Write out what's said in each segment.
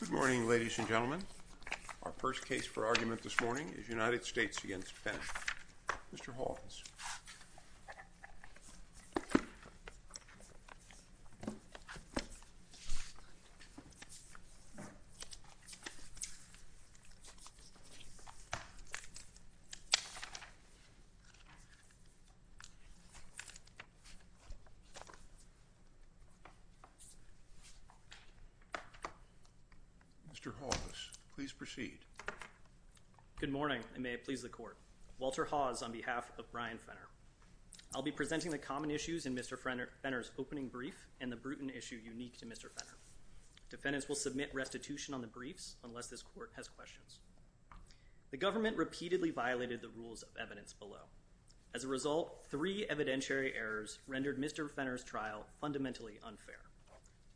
Good morning, ladies and gentlemen. Our first case for argument this morning is United States v. Fenner. Mr. Hawkins. Mr. Hawks, please proceed. Good morning, and may it please the court. Walter Hawes on behalf of Brian Fenner. I'll be presenting the common issues in Mr. Fenner's opening brief and the brutal issue unique to Mr. Fenner. Defendants will submit restitution on the briefs unless this court has questions. The government repeatedly violated the rules of evidence below. As a result, three evidentiary errors rendered Mr. Fenner's trial fundamentally unfair.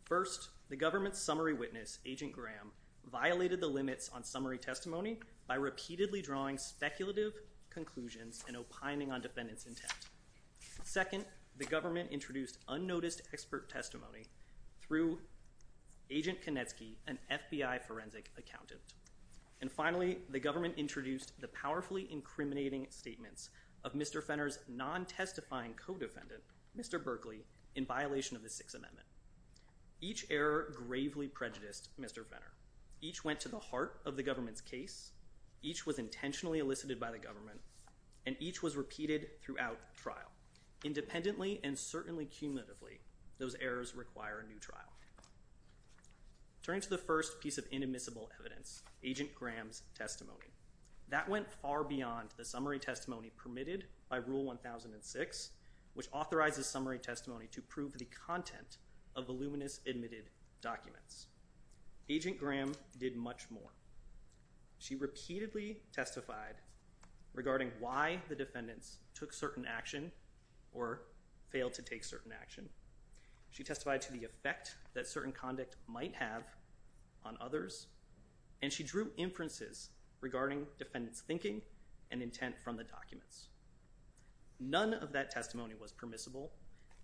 First, the government's summary witness, Agent Graham, violated the limits on summary testimony by repeatedly drawing speculative conclusions and opining on defendants' intent. Second, the government introduced unnoticed expert testimony through Agent Konecki, an FBI forensic accountant. And finally, the government introduced the powerfully incriminating statements of Mr. Fenner's non-testifying co-defendant, Mr. Berkley, in violation of the Sixth Amendment. Each error gravely prejudiced Mr. Fenner. Each went to the heart of the government's case, each was intentionally elicited by the government, and each was repeated throughout trial. Independently and certainly cumulatively, those errors require a new trial. Turning to the first piece of inadmissible evidence, Agent Graham's testimony. That went far beyond the summary testimony permitted by Rule 1006, which authorizes summary testimony to prove the content of voluminous admitted documents. Agent Graham did much more. She repeatedly testified regarding why the defendants took certain action or failed to take certain action. She testified to the effect that certain conduct might have on others, and she drew inferences regarding defendants' thinking and intent from the documents. None of that testimony was permissible.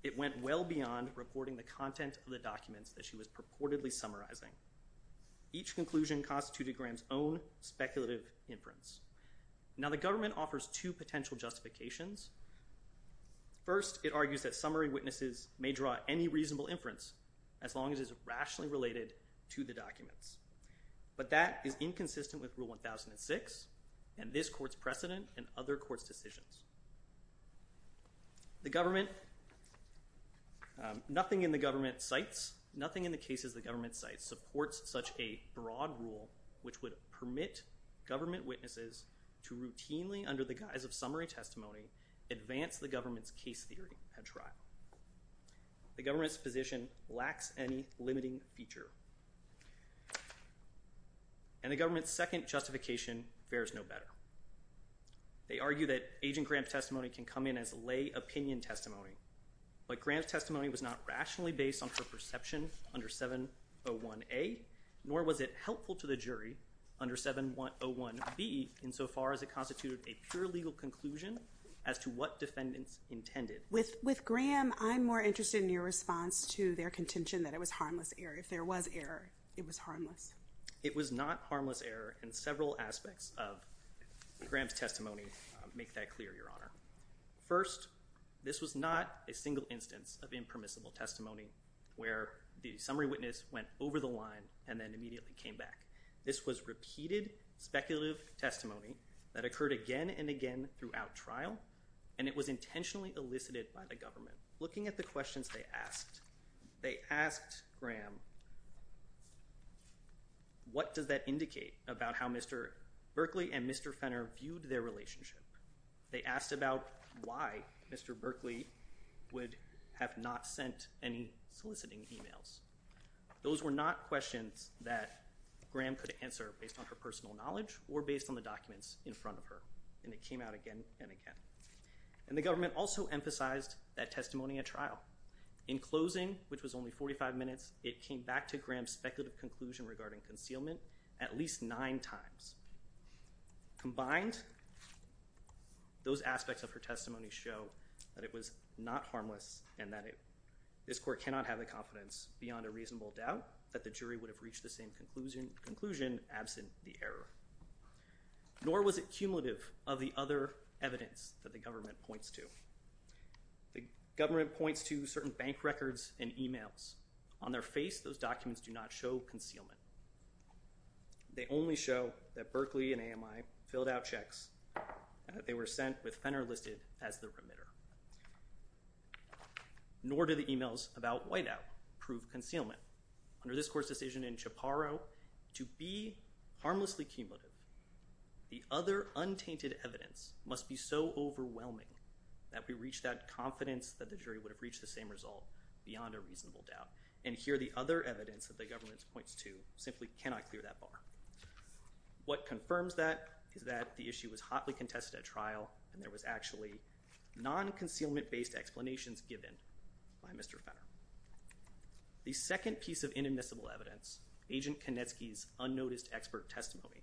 It went well beyond reporting the content of the documents that she was purportedly summarizing. Each conclusion constituted Graham's own speculative inference. Now, the government offers two potential justifications. First, it argues that summary witnesses may draw any reasonable inference as long as it's rationally related to the documents. But that is inconsistent with Rule 1006 and this court's precedent and other courts' decisions. Nothing in the cases the government cites supports such a broad rule which would permit government witnesses to routinely, under the guise of summary testimony, advance the government's case theory at trial. The government's position lacks any limiting feature. And the government's second justification fares no better. They argue that Agent Graham's testimony can come in as lay opinion testimony, but Graham's testimony was not rationally based on her perception under 701A, nor was it helpful to the jury under 701B insofar as it constituted a pure legal conclusion as to what defendants intended. With Graham, I'm more interested in your response to their contention that it was harmless error. If there was error, it was harmless. It was not harmless error in several aspects of Graham's testimony to make that clear, Your Honor. First, this was not a single instance of impermissible testimony where the summary witness went over the line and then immediately came back. This was repeated speculative testimony that occurred again and again throughout trial, and it was intentionally elicited by the government. Looking at the questions they asked, they asked Graham, what does that indicate about how Mr. Berkley and Mr. Fenner viewed their relationship? They asked about why Mr. Berkley would have not sent any soliciting emails. Those were not questions that Graham could answer based on her personal knowledge or based on the documents in front of her, and it came out again and again. And the government also emphasized that testimony at trial. In closing, which was only 45 minutes, it came back to Graham's speculative conclusion regarding concealment at least nine times. Combined, those aspects of her testimony show that it was not harmless and that this court cannot have the confidence beyond a reasonable doubt that the jury would have reached the same conclusion absent the error. Nor was it cumulative of the other evidence that the government points to. The government points to certain bank records and emails. On their face, those documents do not show concealment. They only show that Berkley and AMI filled out checks and that they were sent with Fenner listed as the remitter. Nor do the emails about Whiteout prove concealment. Under this court's decision in Chaparro, to be harmlessly cumulative, the other untainted evidence must be so overwhelming that we reach that confidence that the jury would have reached the same result beyond a reasonable doubt. And here, the other evidence that the government points to simply cannot clear that bar. What confirms that is that the issue was hotly contested at trial and there was actually non-concealment-based explanations given by Mr. Fenner. The second piece of inadmissible evidence, Agent Konecki's unnoticed expert testimony,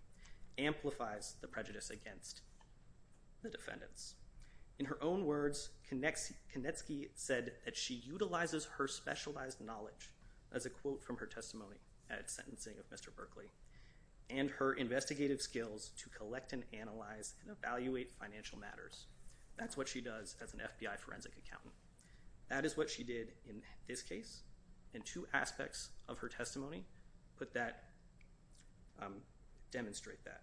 amplifies the prejudice against the defendants. In her own words, Konecki said that she utilizes her specialized knowledge, as a quote from her testimony at sentencing of Mr. Berkley, and her investigative skills to collect and analyze and evaluate financial matters. That's what she does as an FBI forensic accountant. That is what she did in this case, and two aspects of her testimony demonstrate that.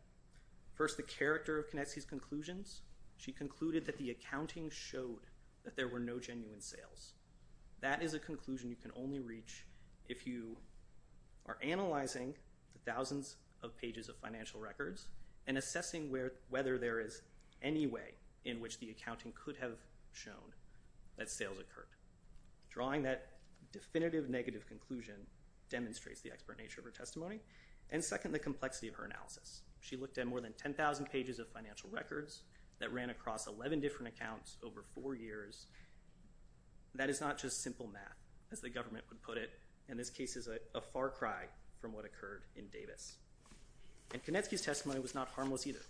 First, the character of Konecki's conclusions. She concluded that the accounting showed that there were no genuine sales. That is a conclusion you can only reach if you are analyzing the thousands of pages of financial records and assessing whether there is any way in which the accounting could have shown that sales occurred. Drawing that definitive negative conclusion demonstrates the expert nature of her testimony. And second, the complexity of her analysis. She looked at more than 10,000 pages of financial records that ran across 11 different accounts over four years. That is not just simple math, as the government would put it. And this case is a far cry from what occurred in Davis. And Konecki's testimony was not harmless either.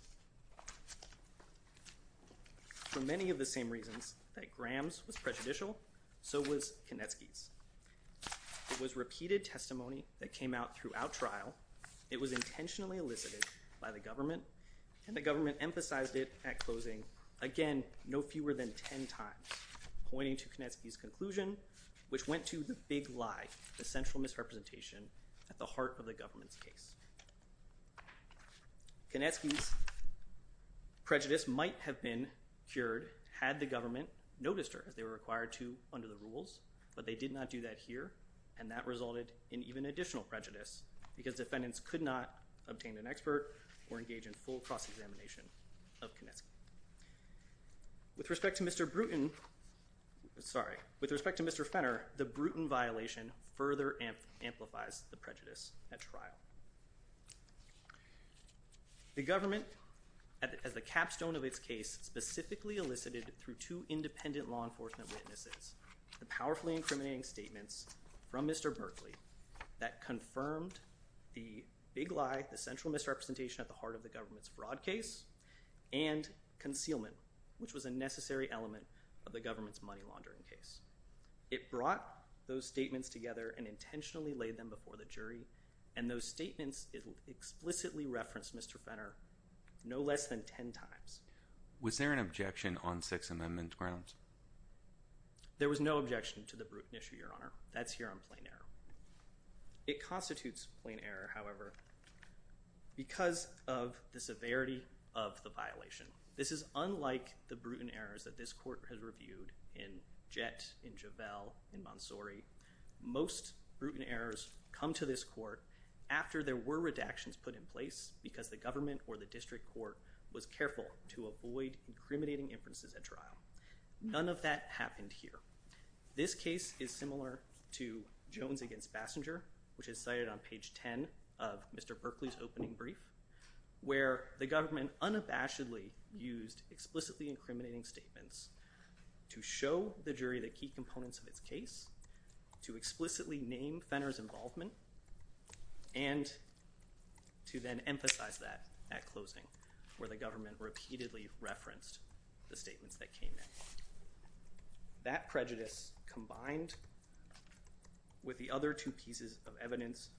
For many of the same reasons that Graham's was prejudicial, so was Konecki's. It was repeated testimony that came out throughout trial. It was intentionally elicited by the government, and the government emphasized it at closing, again, no fewer than 10 times, pointing to Konecki's conclusion, which went to the big lie, the central misrepresentation at the heart of the government's case. Konecki's prejudice might have been cured had the government noticed her, as they were required to under the rules. But they did not do that here, and that resulted in even additional prejudice, because defendants could not obtain an expert or engage in full cross-examination of Konecki. With respect to Mr. Bruton, sorry, with respect to Mr. Fenner, the Bruton violation further amplifies the prejudice at trial. The government, as the capstone of its case, specifically elicited through two independent law enforcement witnesses the powerfully incriminating statements from Mr. Berkley that confirmed the big lie, the central misrepresentation at the heart of the government's fraud case, and concealment, which was a necessary element of the government's money laundering case. It brought those statements together and intentionally laid them before the jury, and those statements explicitly referenced Mr. Fenner no less than 10 times. Was there an objection on Sixth Amendment grounds? There was no objection to the Bruton issue, Your Honor. That's here on plain error. It constitutes plain error, however, because of the severity of the violation. This is unlike the Bruton errors that this court has reviewed in Jett, in Javel, in Monsori. Most Bruton errors come to this court after there were redactions put in place because the government or the district court was careful to avoid incriminating inferences at trial. None of that happened here. This case is similar to Jones against Bassinger, which is cited on page 10 of Mr. Berkley's opening brief, where the government unabashedly used explicitly incriminating statements to show the jury the key components of its case, to explicitly name Fenner's involvement, and to then emphasize that at closing, where the government repeatedly referenced the statements that came in. That prejudice, combined with the other two pieces of evidence,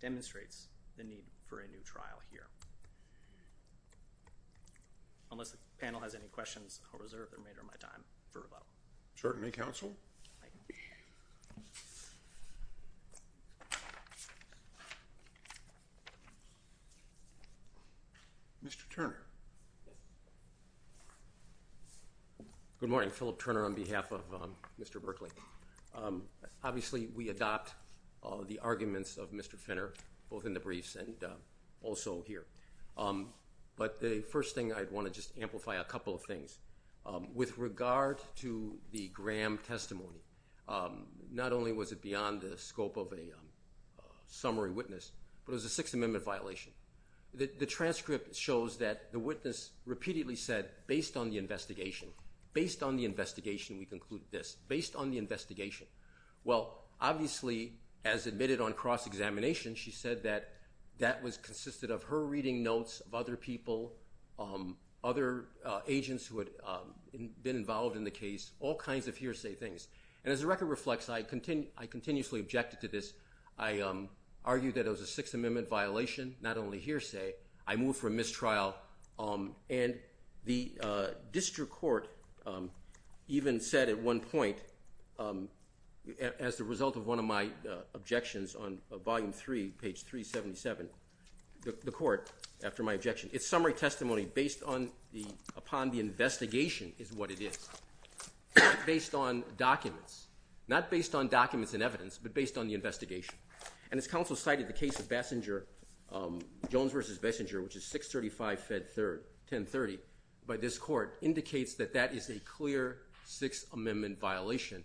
demonstrates the need for a new trial here. Unless the panel has any questions, I'll reserve the remainder of my time for rebuttal. Certainly, counsel. Mr. Turner. Good morning. Philip Turner on behalf of Mr. Berkley. Obviously, we adopt the arguments of Mr. Fenner, both in the briefs and also here. But the first thing, I'd want to just amplify a couple of things. With regard to the Graham testimony, not only was it beyond the scope of a summary witness, but it was a Sixth Amendment violation. The transcript shows that the witness repeatedly said, based on the investigation, based on the investigation, we conclude this, based on the investigation. Well, obviously, as admitted on cross-examination, she said that that was consisted of her reading notes of other people, other agents who had been involved in the case, all kinds of hearsay things. And as the record reflects, I continuously objected to this. I argued that it was a Sixth Amendment violation, not only hearsay. I moved for a mistrial. And the district court even said at one point, as the result of one of my objections on Volume 3, page 377, the court, after my objection, its summary testimony, based upon the investigation, is what it is, based on documents. Not based on documents and evidence, but based on the investigation. And as counsel cited, the case of Jones v. Bessinger, which is 635 Fed 1030, by this court, indicates that that is a clear Sixth Amendment violation.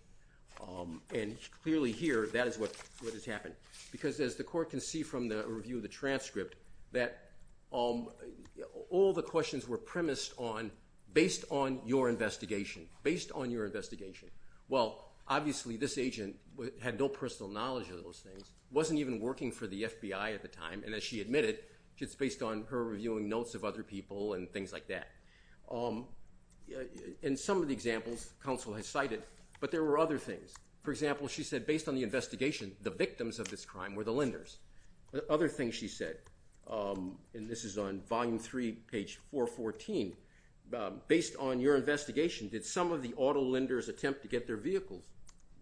And clearly here, that is what has happened. Because as the court can see from the review of the transcript, that all the questions were premised on, based on your investigation, based on your investigation. Well, obviously, this agent had no personal knowledge of those things, wasn't even working for the FBI at the time, and as she admitted, it's based on her reviewing notes of other people and things like that. And some of the examples counsel has cited, but there were other things. For example, she said, based on the investigation, the victims of this crime were the lenders. Other things she said, and this is on Volume 3, page 414, based on your investigation, did some of the auto lenders attempt to get their vehicles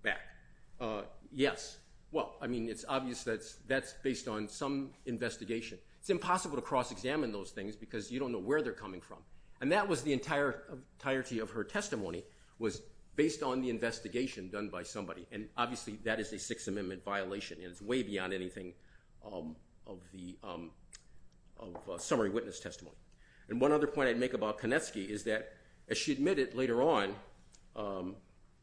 back? Yes. Well, I mean, it's obvious that that's based on some investigation. It's impossible to cross-examine those things because you don't know where they're coming from. And that was the entirety of her testimony, was based on the investigation done by somebody. And obviously, that is a Sixth Amendment violation, and it's way beyond anything of a summary witness testimony. And one other point I'd make about Kanetsky is that, as she admitted later on,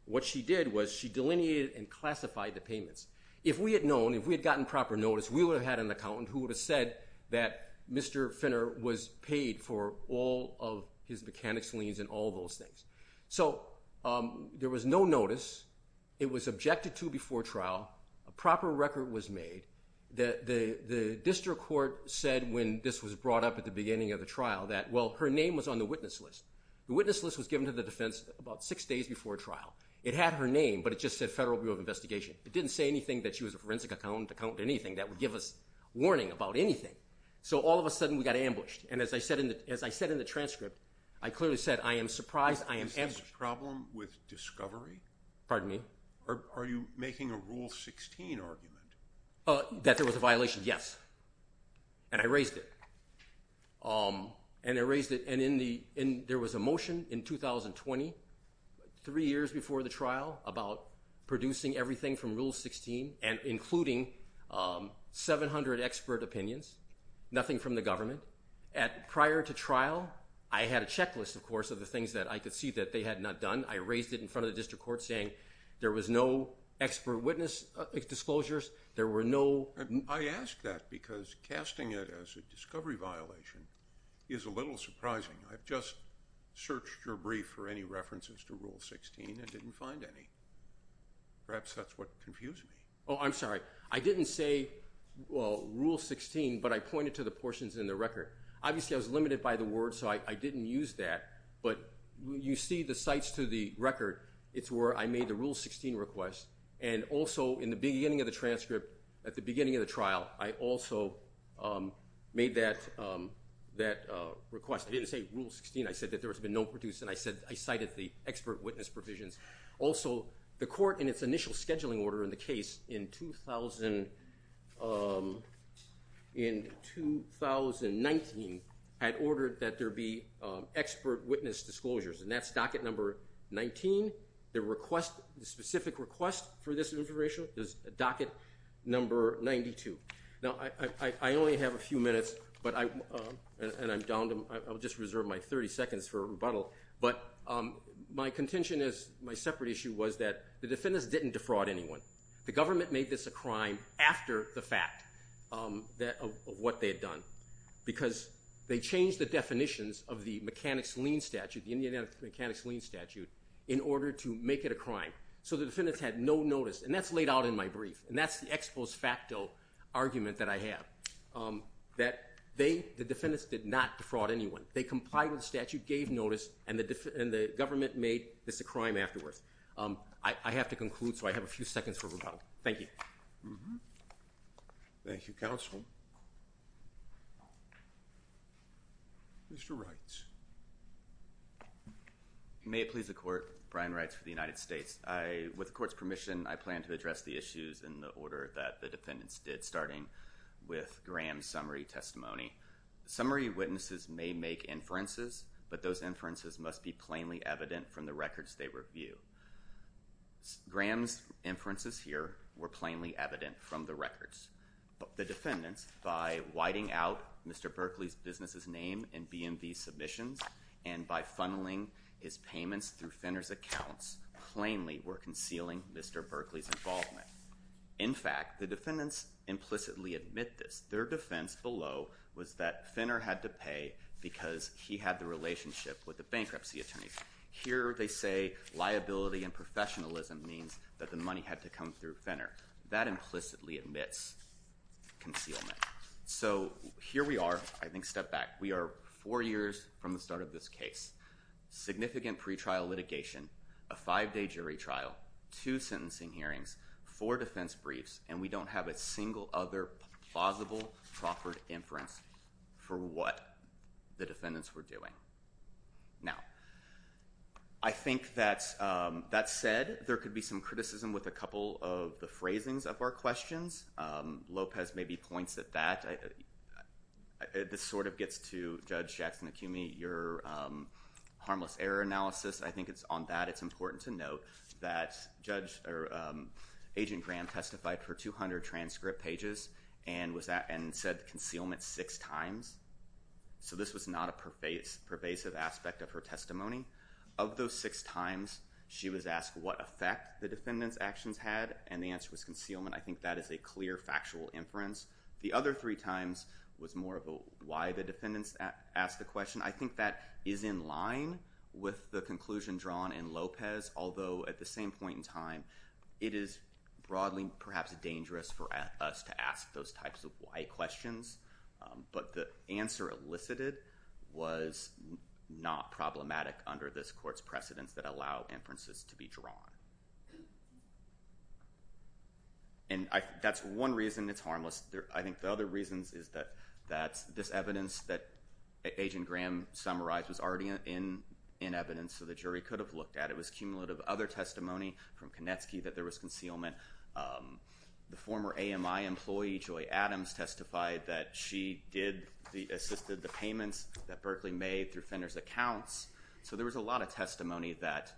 what she did was she delineated and classified the payments. If we had known, if we had gotten proper notice, we would have had an accountant who would have said that Mr. Finner was paid for all of his mechanics liens and all those things. So there was no notice. It was objected to before trial. A proper record was made. The district court said when this was brought up at the beginning of the trial that, well, her name was on the witness list. The witness list was given to the defense about six days before trial. It had her name, but it just said Federal Bureau of Investigation. It didn't say anything that she was a forensic accountant or anything that would give us warning about anything. So all of a sudden, we got ambushed. And as I said in the transcript, I clearly said, I am surprised, I am ambushed. Is this a problem with discovery? Pardon me? Are you making a Rule 16 argument? That there was a violation, yes. And I raised it. And I raised it. And there was a motion in 2020, three years before the trial, about producing everything from Rule 16 and including 700 expert opinions, nothing from the government. Prior to trial, I had a checklist, of course, of the things that I could see that they had not done. I raised it in front of the district court saying there was no expert witness disclosures. I ask that because casting it as a discovery violation is a little surprising. I've just searched your brief for any references to Rule 16 and didn't find any. Perhaps that's what confused me. Oh, I'm sorry. I didn't say, well, Rule 16, but I pointed to the portions in the record. Obviously, I was limited by the word, so I didn't use that. But you see the sites to the record. It's where I made the Rule 16 request. And also, in the beginning of the transcript, at the beginning of the trial, I also made that request. I didn't say Rule 16. I said that there has been no produce. And I cited the expert witness provisions. Also, the court, in its initial scheduling order in the case in 2019, had ordered that there be expert witness disclosures. And that's docket number 19. The specific request for this information is docket number 92. Now, I only have a few minutes, and I'll just reserve my 30 seconds for rebuttal. But my contention is, my separate issue was that the defendants didn't defraud anyone. The government made this a crime after the fact of what they had done, because they changed the definitions of the mechanics lien statute, the Indiana mechanics lien statute, in order to make it a crime. So the defendants had no notice. And that's laid out in my brief. And that's the ex post facto argument that I have, that the defendants did not defraud anyone. They complied with the statute, gave notice, and the government made this a crime afterwards. I have to conclude, so I have a few seconds for rebuttal. Thank you. Thank you, counsel. Mr. Wrights. May it please the court, Brian Wrights for the United States. With the court's permission, I plan to address the issues in the order that the defendants did, starting with Graham's summary testimony. Summary witnesses may make inferences, but those inferences must be plainly evident from the records they review. Graham's inferences here were plainly evident from the records. But the defendants, by whiting out Mr. Berkley's business's name in BMV submissions, and by funneling his payments through Finner's accounts, plainly were concealing Mr. Berkley's involvement. In fact, the defendants implicitly admit this. Their defense below was that Finner had to pay because he had the relationship with the bankruptcy attorney. Here they say liability and professionalism means that the money had to come through Finner. That implicitly admits concealment. So here we are, I think a step back. We are four years from the start of this case. Significant pretrial litigation, a five-day jury trial, two sentencing hearings, four defense briefs, and we don't have a single other plausible, proper inference for what the defendants were doing. Now, I think that said, there could be some criticism with a couple of the phrasings of our questions. Lopez maybe points at that. This sort of gets to, Judge Jackson-Akumi, your harmless error analysis. I think on that it's important to note that Agent Graham testified for 200 transcript pages and said concealment six times. So this was not a pervasive aspect of her testimony. Of those six times, she was asked what effect the defendants' actions had, and the answer was concealment. I think that is a clear, factual inference. The other three times was more of a why the defendants asked the question. I think that is in line with the conclusion drawn in Lopez, although at the same point in time, it is broadly perhaps dangerous for us to ask those types of why questions. But the answer elicited was not problematic under this court's precedents that allow inferences to be drawn. And that's one reason it's harmless. I think the other reasons is that this evidence that Agent Graham summarized was already in evidence, so the jury could have looked at it. It was cumulative. Other testimony from Konecki that there was concealment. The former AMI employee, Joy Adams, testified that she assisted the payments that Berkley made through Fenner's accounts. So there was a lot of testimony that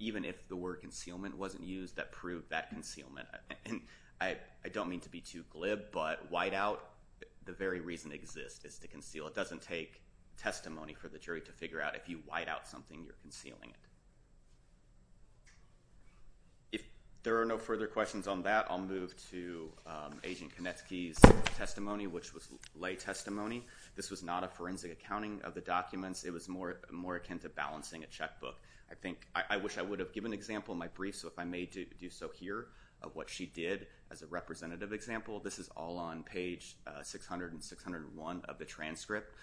even if the word concealment wasn't used, that proved that concealment. And I don't mean to be too glib, but white out, the very reason it exists is to conceal. It doesn't take testimony for the jury to figure out if you white out something, you're concealing it. If there are no further questions on that, I'll move to Agent Konecki's testimony, which was lay testimony. This was not a forensic accounting of the documents. It was more akin to balancing a checkbook. I wish I would have given an example in my brief, so if I may do so here of what she did as a representative example. This is all on page 600 and 601 of the transcript.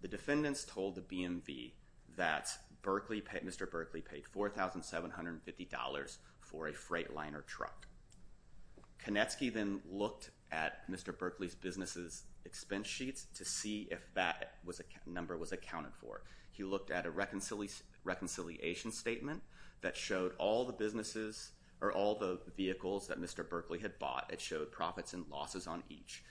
The defendants told the BMV that Mr. Berkley paid $4,750 for a freight liner truck. Konecki then looked at Mr. Berkley's business's expense sheets to see if that number was accounted for. He looked at a reconciliation statement that showed all the vehicles that Mr. Berkley had bought. It showed profits and losses on each.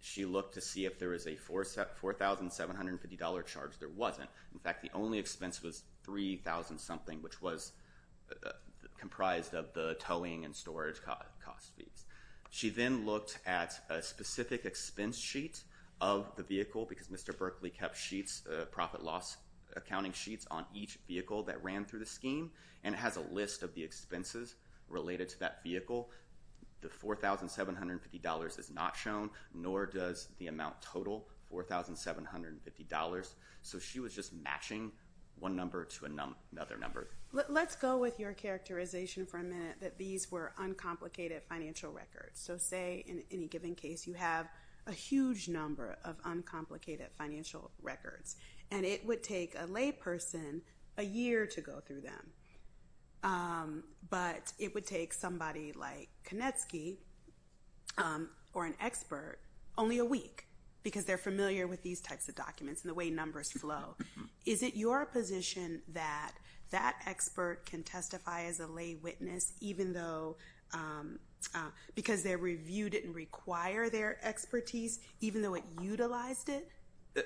She looked to see if there was a $4,750 charge. There wasn't. In fact, the only expense was $3,000 something, which was comprised of the towing and storage cost fees. She then looked at a specific expense sheet of the vehicle because Mr. Berkley kept sheets, profit loss accounting sheets on each vehicle that ran through the scheme, and it has a list of the expenses related to that vehicle. The $4,750 is not shown, nor does the amount total, $4,750. So she was just matching one number to another number. Let's go with your characterization for a minute that these were uncomplicated financial records. So say in any given case you have a huge number of uncomplicated financial records, and it would take a layperson a year to go through them, but it would take somebody like Konecky or an expert only a week because they're familiar with these types of documents and the way numbers flow. Is it your position that that expert can testify as a lay witness even though, because they reviewed it and require their expertise, even though it utilized it?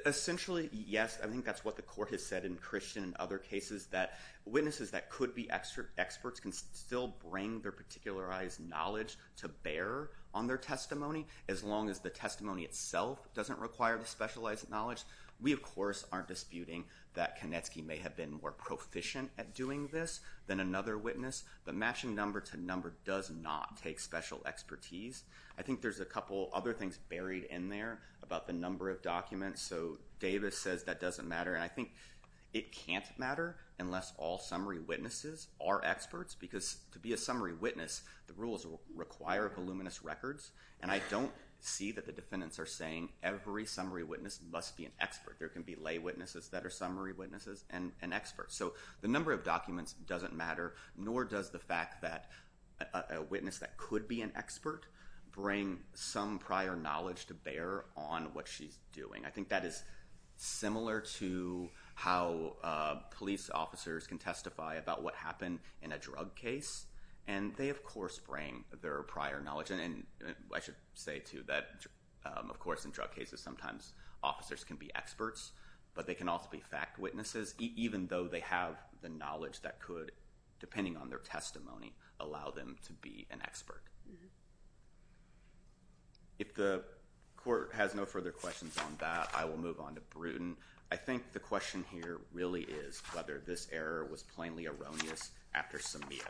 Essentially, yes. I think that's what the court has said in Christian and other cases, that witnesses that could be experts can still bring their particularized knowledge to bear on their testimony as long as the testimony itself doesn't require the specialized knowledge. We, of course, aren't disputing that Konecky may have been more proficient at doing this than another witness. The matching number to number does not take special expertise. I think there's a couple other things buried in there about the number of documents. So Davis says that doesn't matter, and I think it can't matter unless all summary witnesses are experts because to be a summary witness, the rules require voluminous records, and I don't see that the defendants are saying every summary witness must be an expert. There can be lay witnesses that are summary witnesses and experts. So the number of documents doesn't matter, nor does the fact that a witness that could be an expert bring some prior knowledge to bear on what she's doing. I think that is similar to how police officers can testify about what happened in a drug case, and they, of course, bring their prior knowledge. And I should say, too, that, of course, in drug cases, sometimes officers can be experts, but they can also be fact witnesses, even though they have the knowledge that could, depending on their testimony, allow them to be an expert. If the court has no further questions on that, I will move on to Bruton. I think the question here really is whether this error was plainly erroneous after Samia,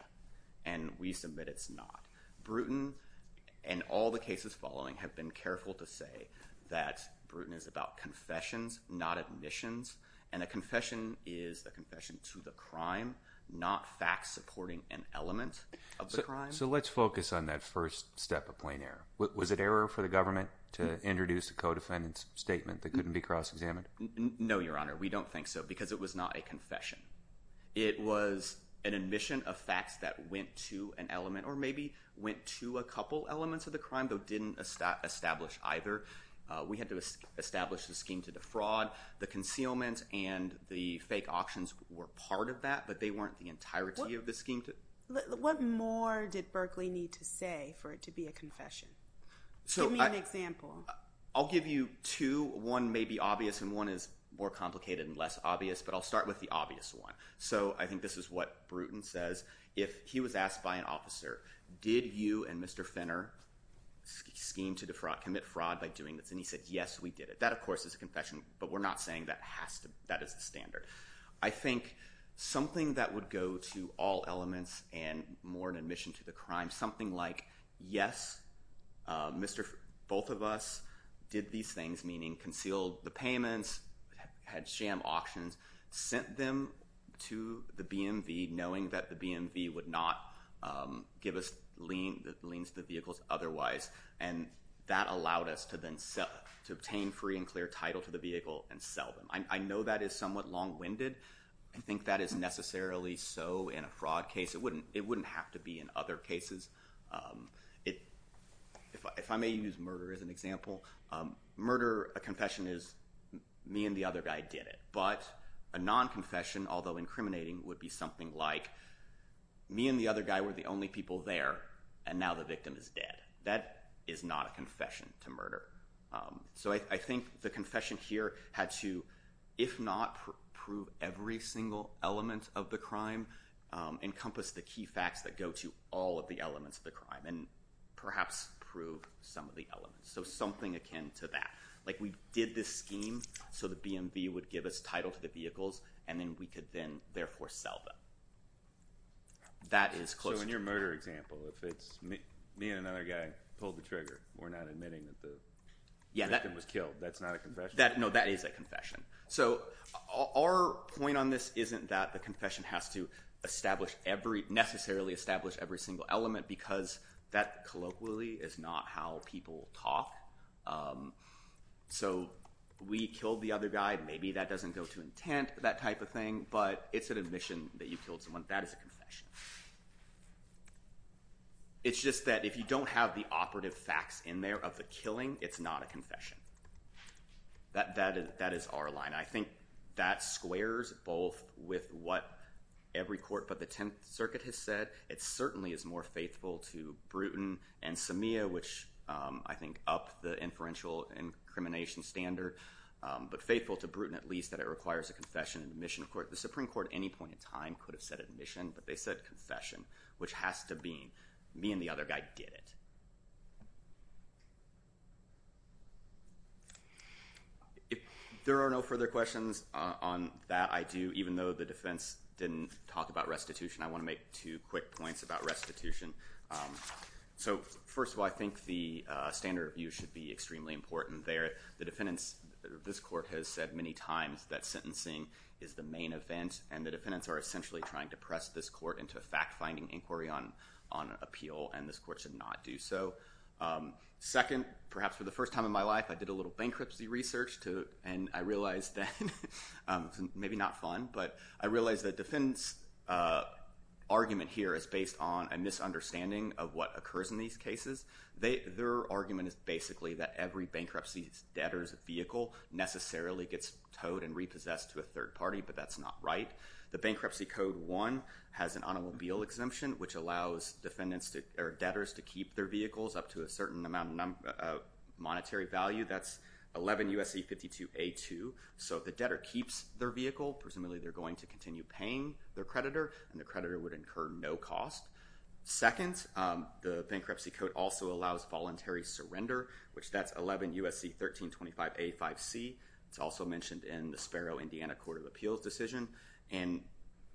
and we submit it's not. Bruton and all the cases following have been careful to say that Bruton is about confessions, not admissions, and a confession is a confession to the crime, not facts supporting an element of the crime. So let's focus on that first step of plain error. Was it error for the government to introduce a co-defendant's statement that couldn't be cross-examined? No, Your Honor, we don't think so because it was not a confession. It was an admission of facts that went to an element or maybe went to a couple elements of the crime, though didn't establish either. We had to establish the scheme to defraud. The concealment and the fake auctions were part of that, but they weren't the entirety of the scheme. What more did Berkeley need to say for it to be a confession? Give me an example. I'll give you two. One may be obvious and one is more complicated and less obvious, but I'll start with the obvious one. So I think this is what Bruton says. If he was asked by an officer, did you and Mr. Finner scheme to commit fraud by doing this? And he said, yes, we did it. That, of course, is a confession, but we're not saying that is the standard. I think something that would go to all elements and more an admission to the crime, something like, yes, both of us did these things, meaning concealed the payments, had sham auctions, sent them to the BMV knowing that the BMV would not give us liens to the vehicles otherwise, and that allowed us to then obtain free and clear title to the vehicle and sell them. I know that is somewhat long-winded. I think that is necessarily so in a fraud case. It wouldn't have to be in other cases. If I may use murder as an example, a confession is me and the other guy did it, but a non-confession, although incriminating, would be something like me and the other guy were the only people there and now the victim is dead. That is not a confession to murder. So I think the confession here had to, if not prove every single element of the crime, encompass the key facts that go to all of the elements of the crime and perhaps prove some of the elements, so something akin to that. Like we did this scheme so the BMV would give us title to the vehicles and then we could then therefore sell them. That is closer to that. Me and another guy pulled the trigger. We're not admitting that the victim was killed. That's not a confession? No, that is a confession. So our point on this isn't that the confession has to necessarily establish every single element because that colloquially is not how people talk. So we killed the other guy. Maybe that doesn't go to intent, that type of thing, but it's an admission that you killed someone. That is a confession. It's just that if you don't have the operative facts in there of the killing, it's not a confession. That is our line. I think that squares both with what every court but the Tenth Circuit has said. It certainly is more faithful to Bruton and Sameah, which I think up the inferential incrimination standard, but faithful to Bruton at least that it requires a confession and admission. The Supreme Court at any point in time could have said admission, but they said confession, which has to mean me and the other guy did it. If there are no further questions on that, I do, even though the defense didn't talk about restitution, I want to make two quick points about restitution. So first of all, I think the standard review should be extremely important there. This court has said many times that sentencing is the main event, and the defendants are essentially trying to press this court into a fact-finding inquiry on appeal, and this court should not do so. Second, perhaps for the first time in my life, I did a little bankruptcy research, and I realized that, maybe not fun, but I realized that defendants' argument here is based on a misunderstanding of what occurs in these cases. Their argument is basically that every bankruptcy debtor's vehicle necessarily gets towed and repossessed to a third party, but that's not right. The Bankruptcy Code 1 has an automobile exemption, which allows debtors to keep their vehicles up to a certain amount of monetary value. That's 11 U.S.C. 52A2. So if the debtor keeps their vehicle, presumably they're going to continue paying their creditor, and the creditor would incur no cost. Second, the Bankruptcy Code also allows voluntary surrender, which that's 11 U.S.C. 1325A5C. It's also mentioned in the Sparrow, Indiana Court of Appeals decision, and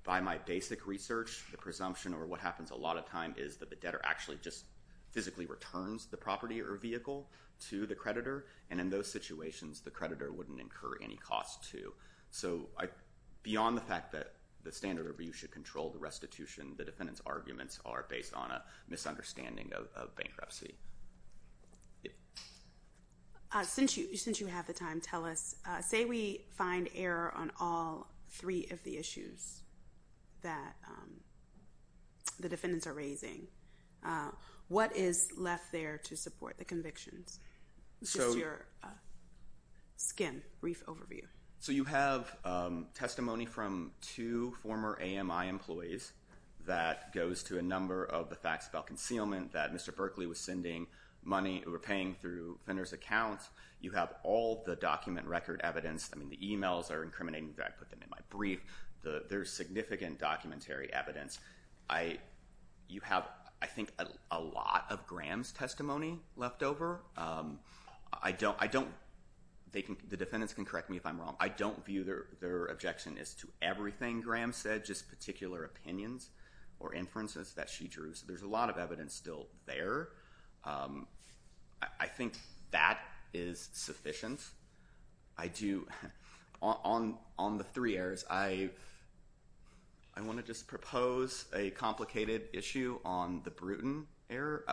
by my basic research, the presumption, or what happens a lot of time, is that the debtor actually just physically returns the property or vehicle to the creditor, and in those situations, the creditor wouldn't incur any cost, too. So beyond the fact that the standard review should control the restitution, the defendant's arguments are based on a misunderstanding of bankruptcy. Since you have the time, tell us, say we find error on all three of the issues that the defendants are raising, what is left there to support the convictions? Just your skin, brief overview. So you have testimony from two former AMI employees that goes to a number of the facts about concealment, that Mr. Berkley was sending money or paying through a vendor's account. You have all the document record evidence. I mean, the e-mails are incriminating. In fact, I put them in my brief. There's significant documentary evidence. You have, I think, a lot of Graham's testimony left over. The defendants can correct me if I'm wrong. I don't view their objection as to everything Graham said, just particular opinions or inferences that she drew. So there's a lot of evidence still there. I think that is sufficient. On the three errors, I want to just propose a complicated issue on the Brewton error.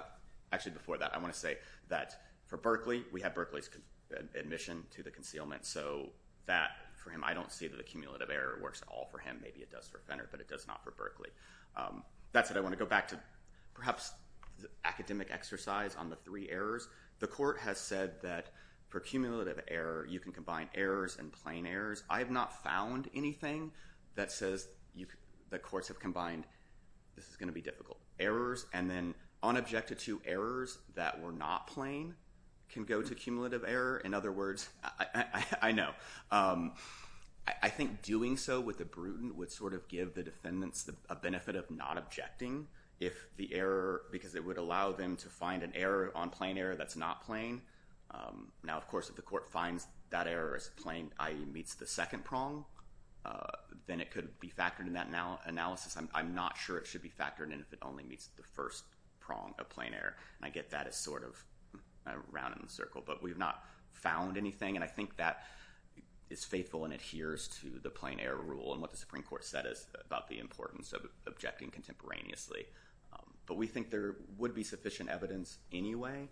Actually, before that, I want to say that for Berkley, we have Berkley's admission to the concealment. So that, for him, I don't see that a cumulative error works at all for him. Maybe it does for Fenner, but it does not for Berkley. That said, I want to go back to perhaps the academic exercise on the three errors. The court has said that for cumulative error, you can combine errors and plain errors. I have not found anything that says the courts have combined, this is going to be difficult, errors, and then unobjected to errors that were not plain can go to cumulative error. In other words, I know. I think doing so with the Brewton would sort of give the defendants a benefit of not objecting if the error, because it would allow them to find an error on plain error that's not plain. Now, of course, if the court finds that error as plain, i.e. meets the second prong, then it could be factored in that analysis. I'm not sure it should be factored in if it only meets the first prong of plain error, and I get that as sort of rounding the circle, but we've not found anything, and I think that is faithful and adheres to the plain error rule and what the Supreme Court said about the importance of objecting contemporaneously. But we think there would be sufficient evidence anyway.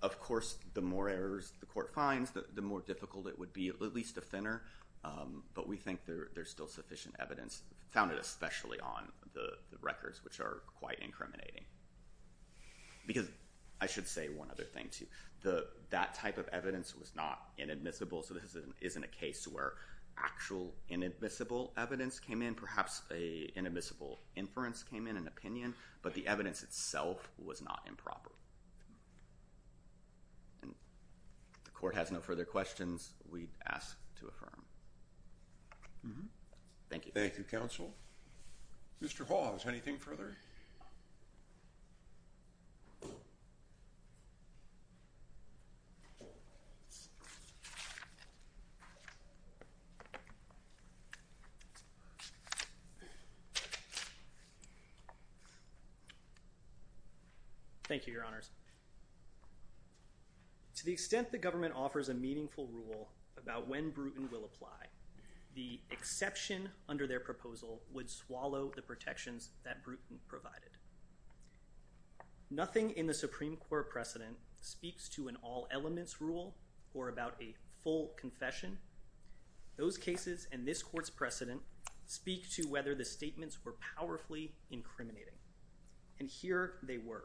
Of course, the more errors the court finds, the more difficult it would be, at least to Fenner, but we think there's still sufficient evidence, founded especially on the records, which are quite incriminating. Because I should say one other thing, too. That type of evidence was not inadmissible, so this isn't a case where actual inadmissible evidence came in. Perhaps an inadmissible inference came in, an opinion, but the evidence itself was not improper. If the court has no further questions, we ask to affirm. Thank you. Thank you, counsel. Mr. Hall, is there anything further? Thank you, Your Honors. To the extent the government offers a meaningful rule about when Bruton will apply, the exception under their proposal would swallow the protections that Bruton provided. Nothing in the Supreme Court precedent speaks to an all-elements rule or about a full confession. Those cases and this court's precedent speak to whether the statements were powerfully incriminating. And here they were.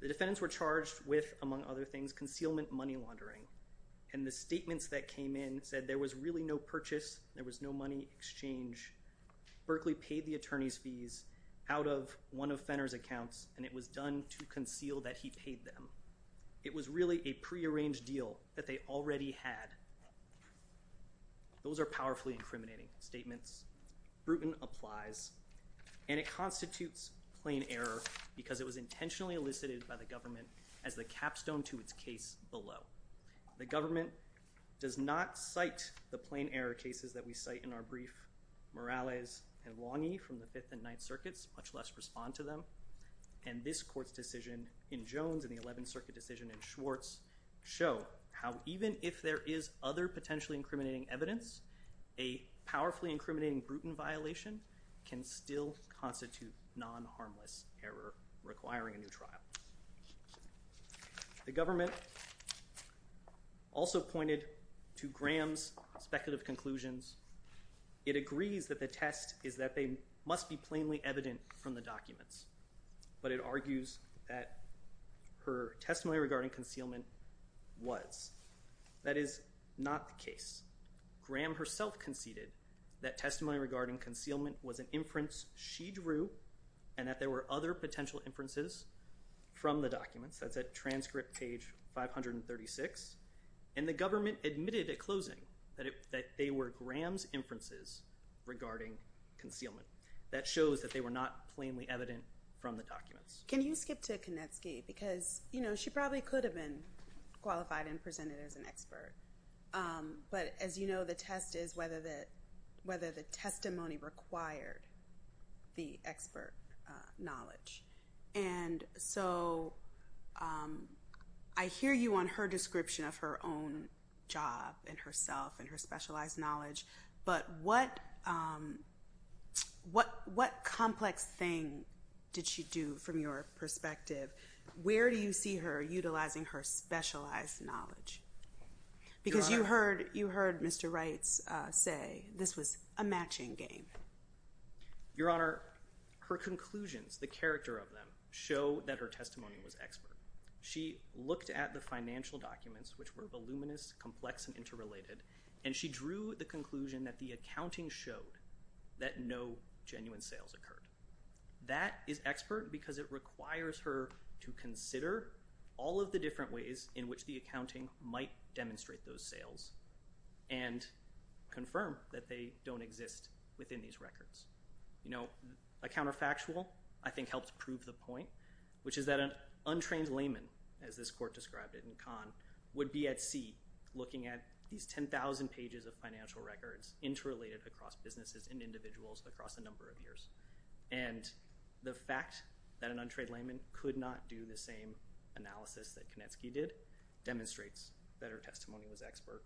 The defendants were charged with, among other things, concealment money laundering, and the statements that came in said there was really no purchase, there was no money exchange. Berkeley paid the attorney's fees out of one of Fenner's accounts, and it was done to conceal that he paid them. It was really a prearranged deal that they already had. Those are powerfully incriminating statements. Bruton applies, and it constitutes plain error because it was intentionally elicited by the government as the capstone to its case below. The government does not cite the plain error cases that we cite in our brief. Morales and Lange from the Fifth and Ninth Circuits much less respond to them. And this court's decision in Jones and the Eleventh Circuit decision in Schwartz show how even if there is other potentially incriminating evidence, a powerfully incriminating Bruton violation can still constitute non-harmless error requiring a new trial. The government also pointed to Graham's speculative conclusions. It agrees that the test is that they must be plainly evident from the documents, but it argues that her testimony regarding concealment was. That is not the case. Graham herself conceded that testimony regarding concealment was an inference she drew and that there were other potential inferences from the documents. That's at transcript page 536. And the government admitted at closing that they were Graham's inferences regarding concealment. That shows that they were not plainly evident from the documents. Can you skip to Kanetsky? Because, you know, she probably could have been qualified and presented as an expert. But as you know, the test is whether the testimony required the expert knowledge. And so I hear you on her description of her own job and herself and her specialized knowledge, but what complex thing did she do from your perspective? Where do you see her utilizing her specialized knowledge? Because you heard Mr. Wrights say this was a matching game. Your Honor, her conclusions, the character of them, show that her testimony was expert. She looked at the financial documents, which were voluminous, complex, and interrelated, and she drew the conclusion that the accounting showed that no genuine sales occurred. That is expert because it requires her to consider all of the different ways in which the accounting might demonstrate those sales and confirm that they don't exist within these records. You know, a counterfactual I think helps prove the point, which is that an untrained layman, as this court described it in Kahn, would be at sea looking at these 10,000 pages of financial records interrelated across businesses and individuals across a number of years. And the fact that an untrained layman could not do the same analysis that Konetsky did demonstrates that her testimony was expert.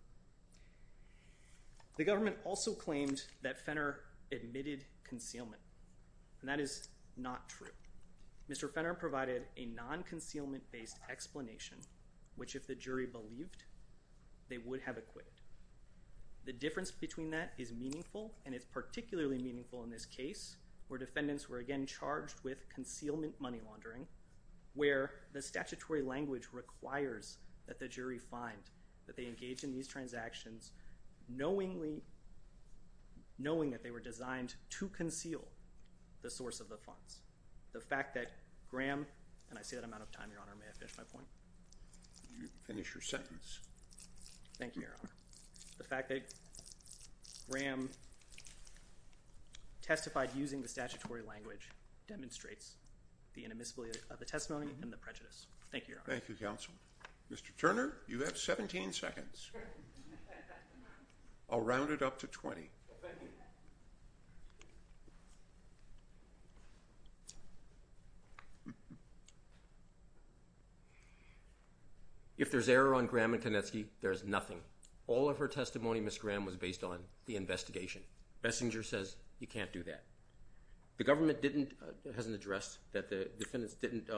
The government also claimed that Fenner admitted concealment, and that is not true. Mr. Fenner provided a non-concealment-based explanation, which if the jury believed, they would have acquitted. The difference between that is meaningful, and it's particularly meaningful in this case where defendants were again charged with concealment money laundering, where the statutory language requires that the jury find that they engage in these transactions knowingly, knowing that they were designed to conceal the source of the funds. The fact that Graham, and I say that I'm out of time, Your Honor, may I finish my point? Finish your sentence. Thank you, Your Honor. The fact that Graham testified using the statutory language demonstrates the inadmissibility of the testimony and the prejudice. Thank you, Your Honor. Thank you, counsel. Mr. Turner, you have 17 seconds. I'll round it up to 20. If there's error on Graham and Konetsky, there's nothing. All of her testimony, Ms. Graham, was based on the investigation. Bessinger says you can't do that. The government hasn't addressed that the defendants didn't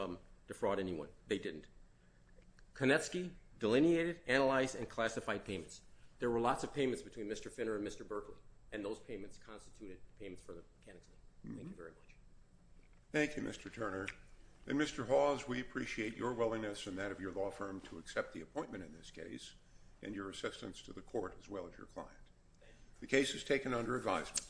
defraud anyone. They didn't. Konetsky delineated, analyzed, and classified payments. There were lots of payments between Mr. Fenner and Mr. Berkley, and those payments constituted payments for the mechanics. Thank you very much. Thank you, Mr. Turner. And, Mr. Hawes, we appreciate your willingness and that of your law firm to accept the appointment in this case and your assistance to the court as well as your client. The case is taken under advisement.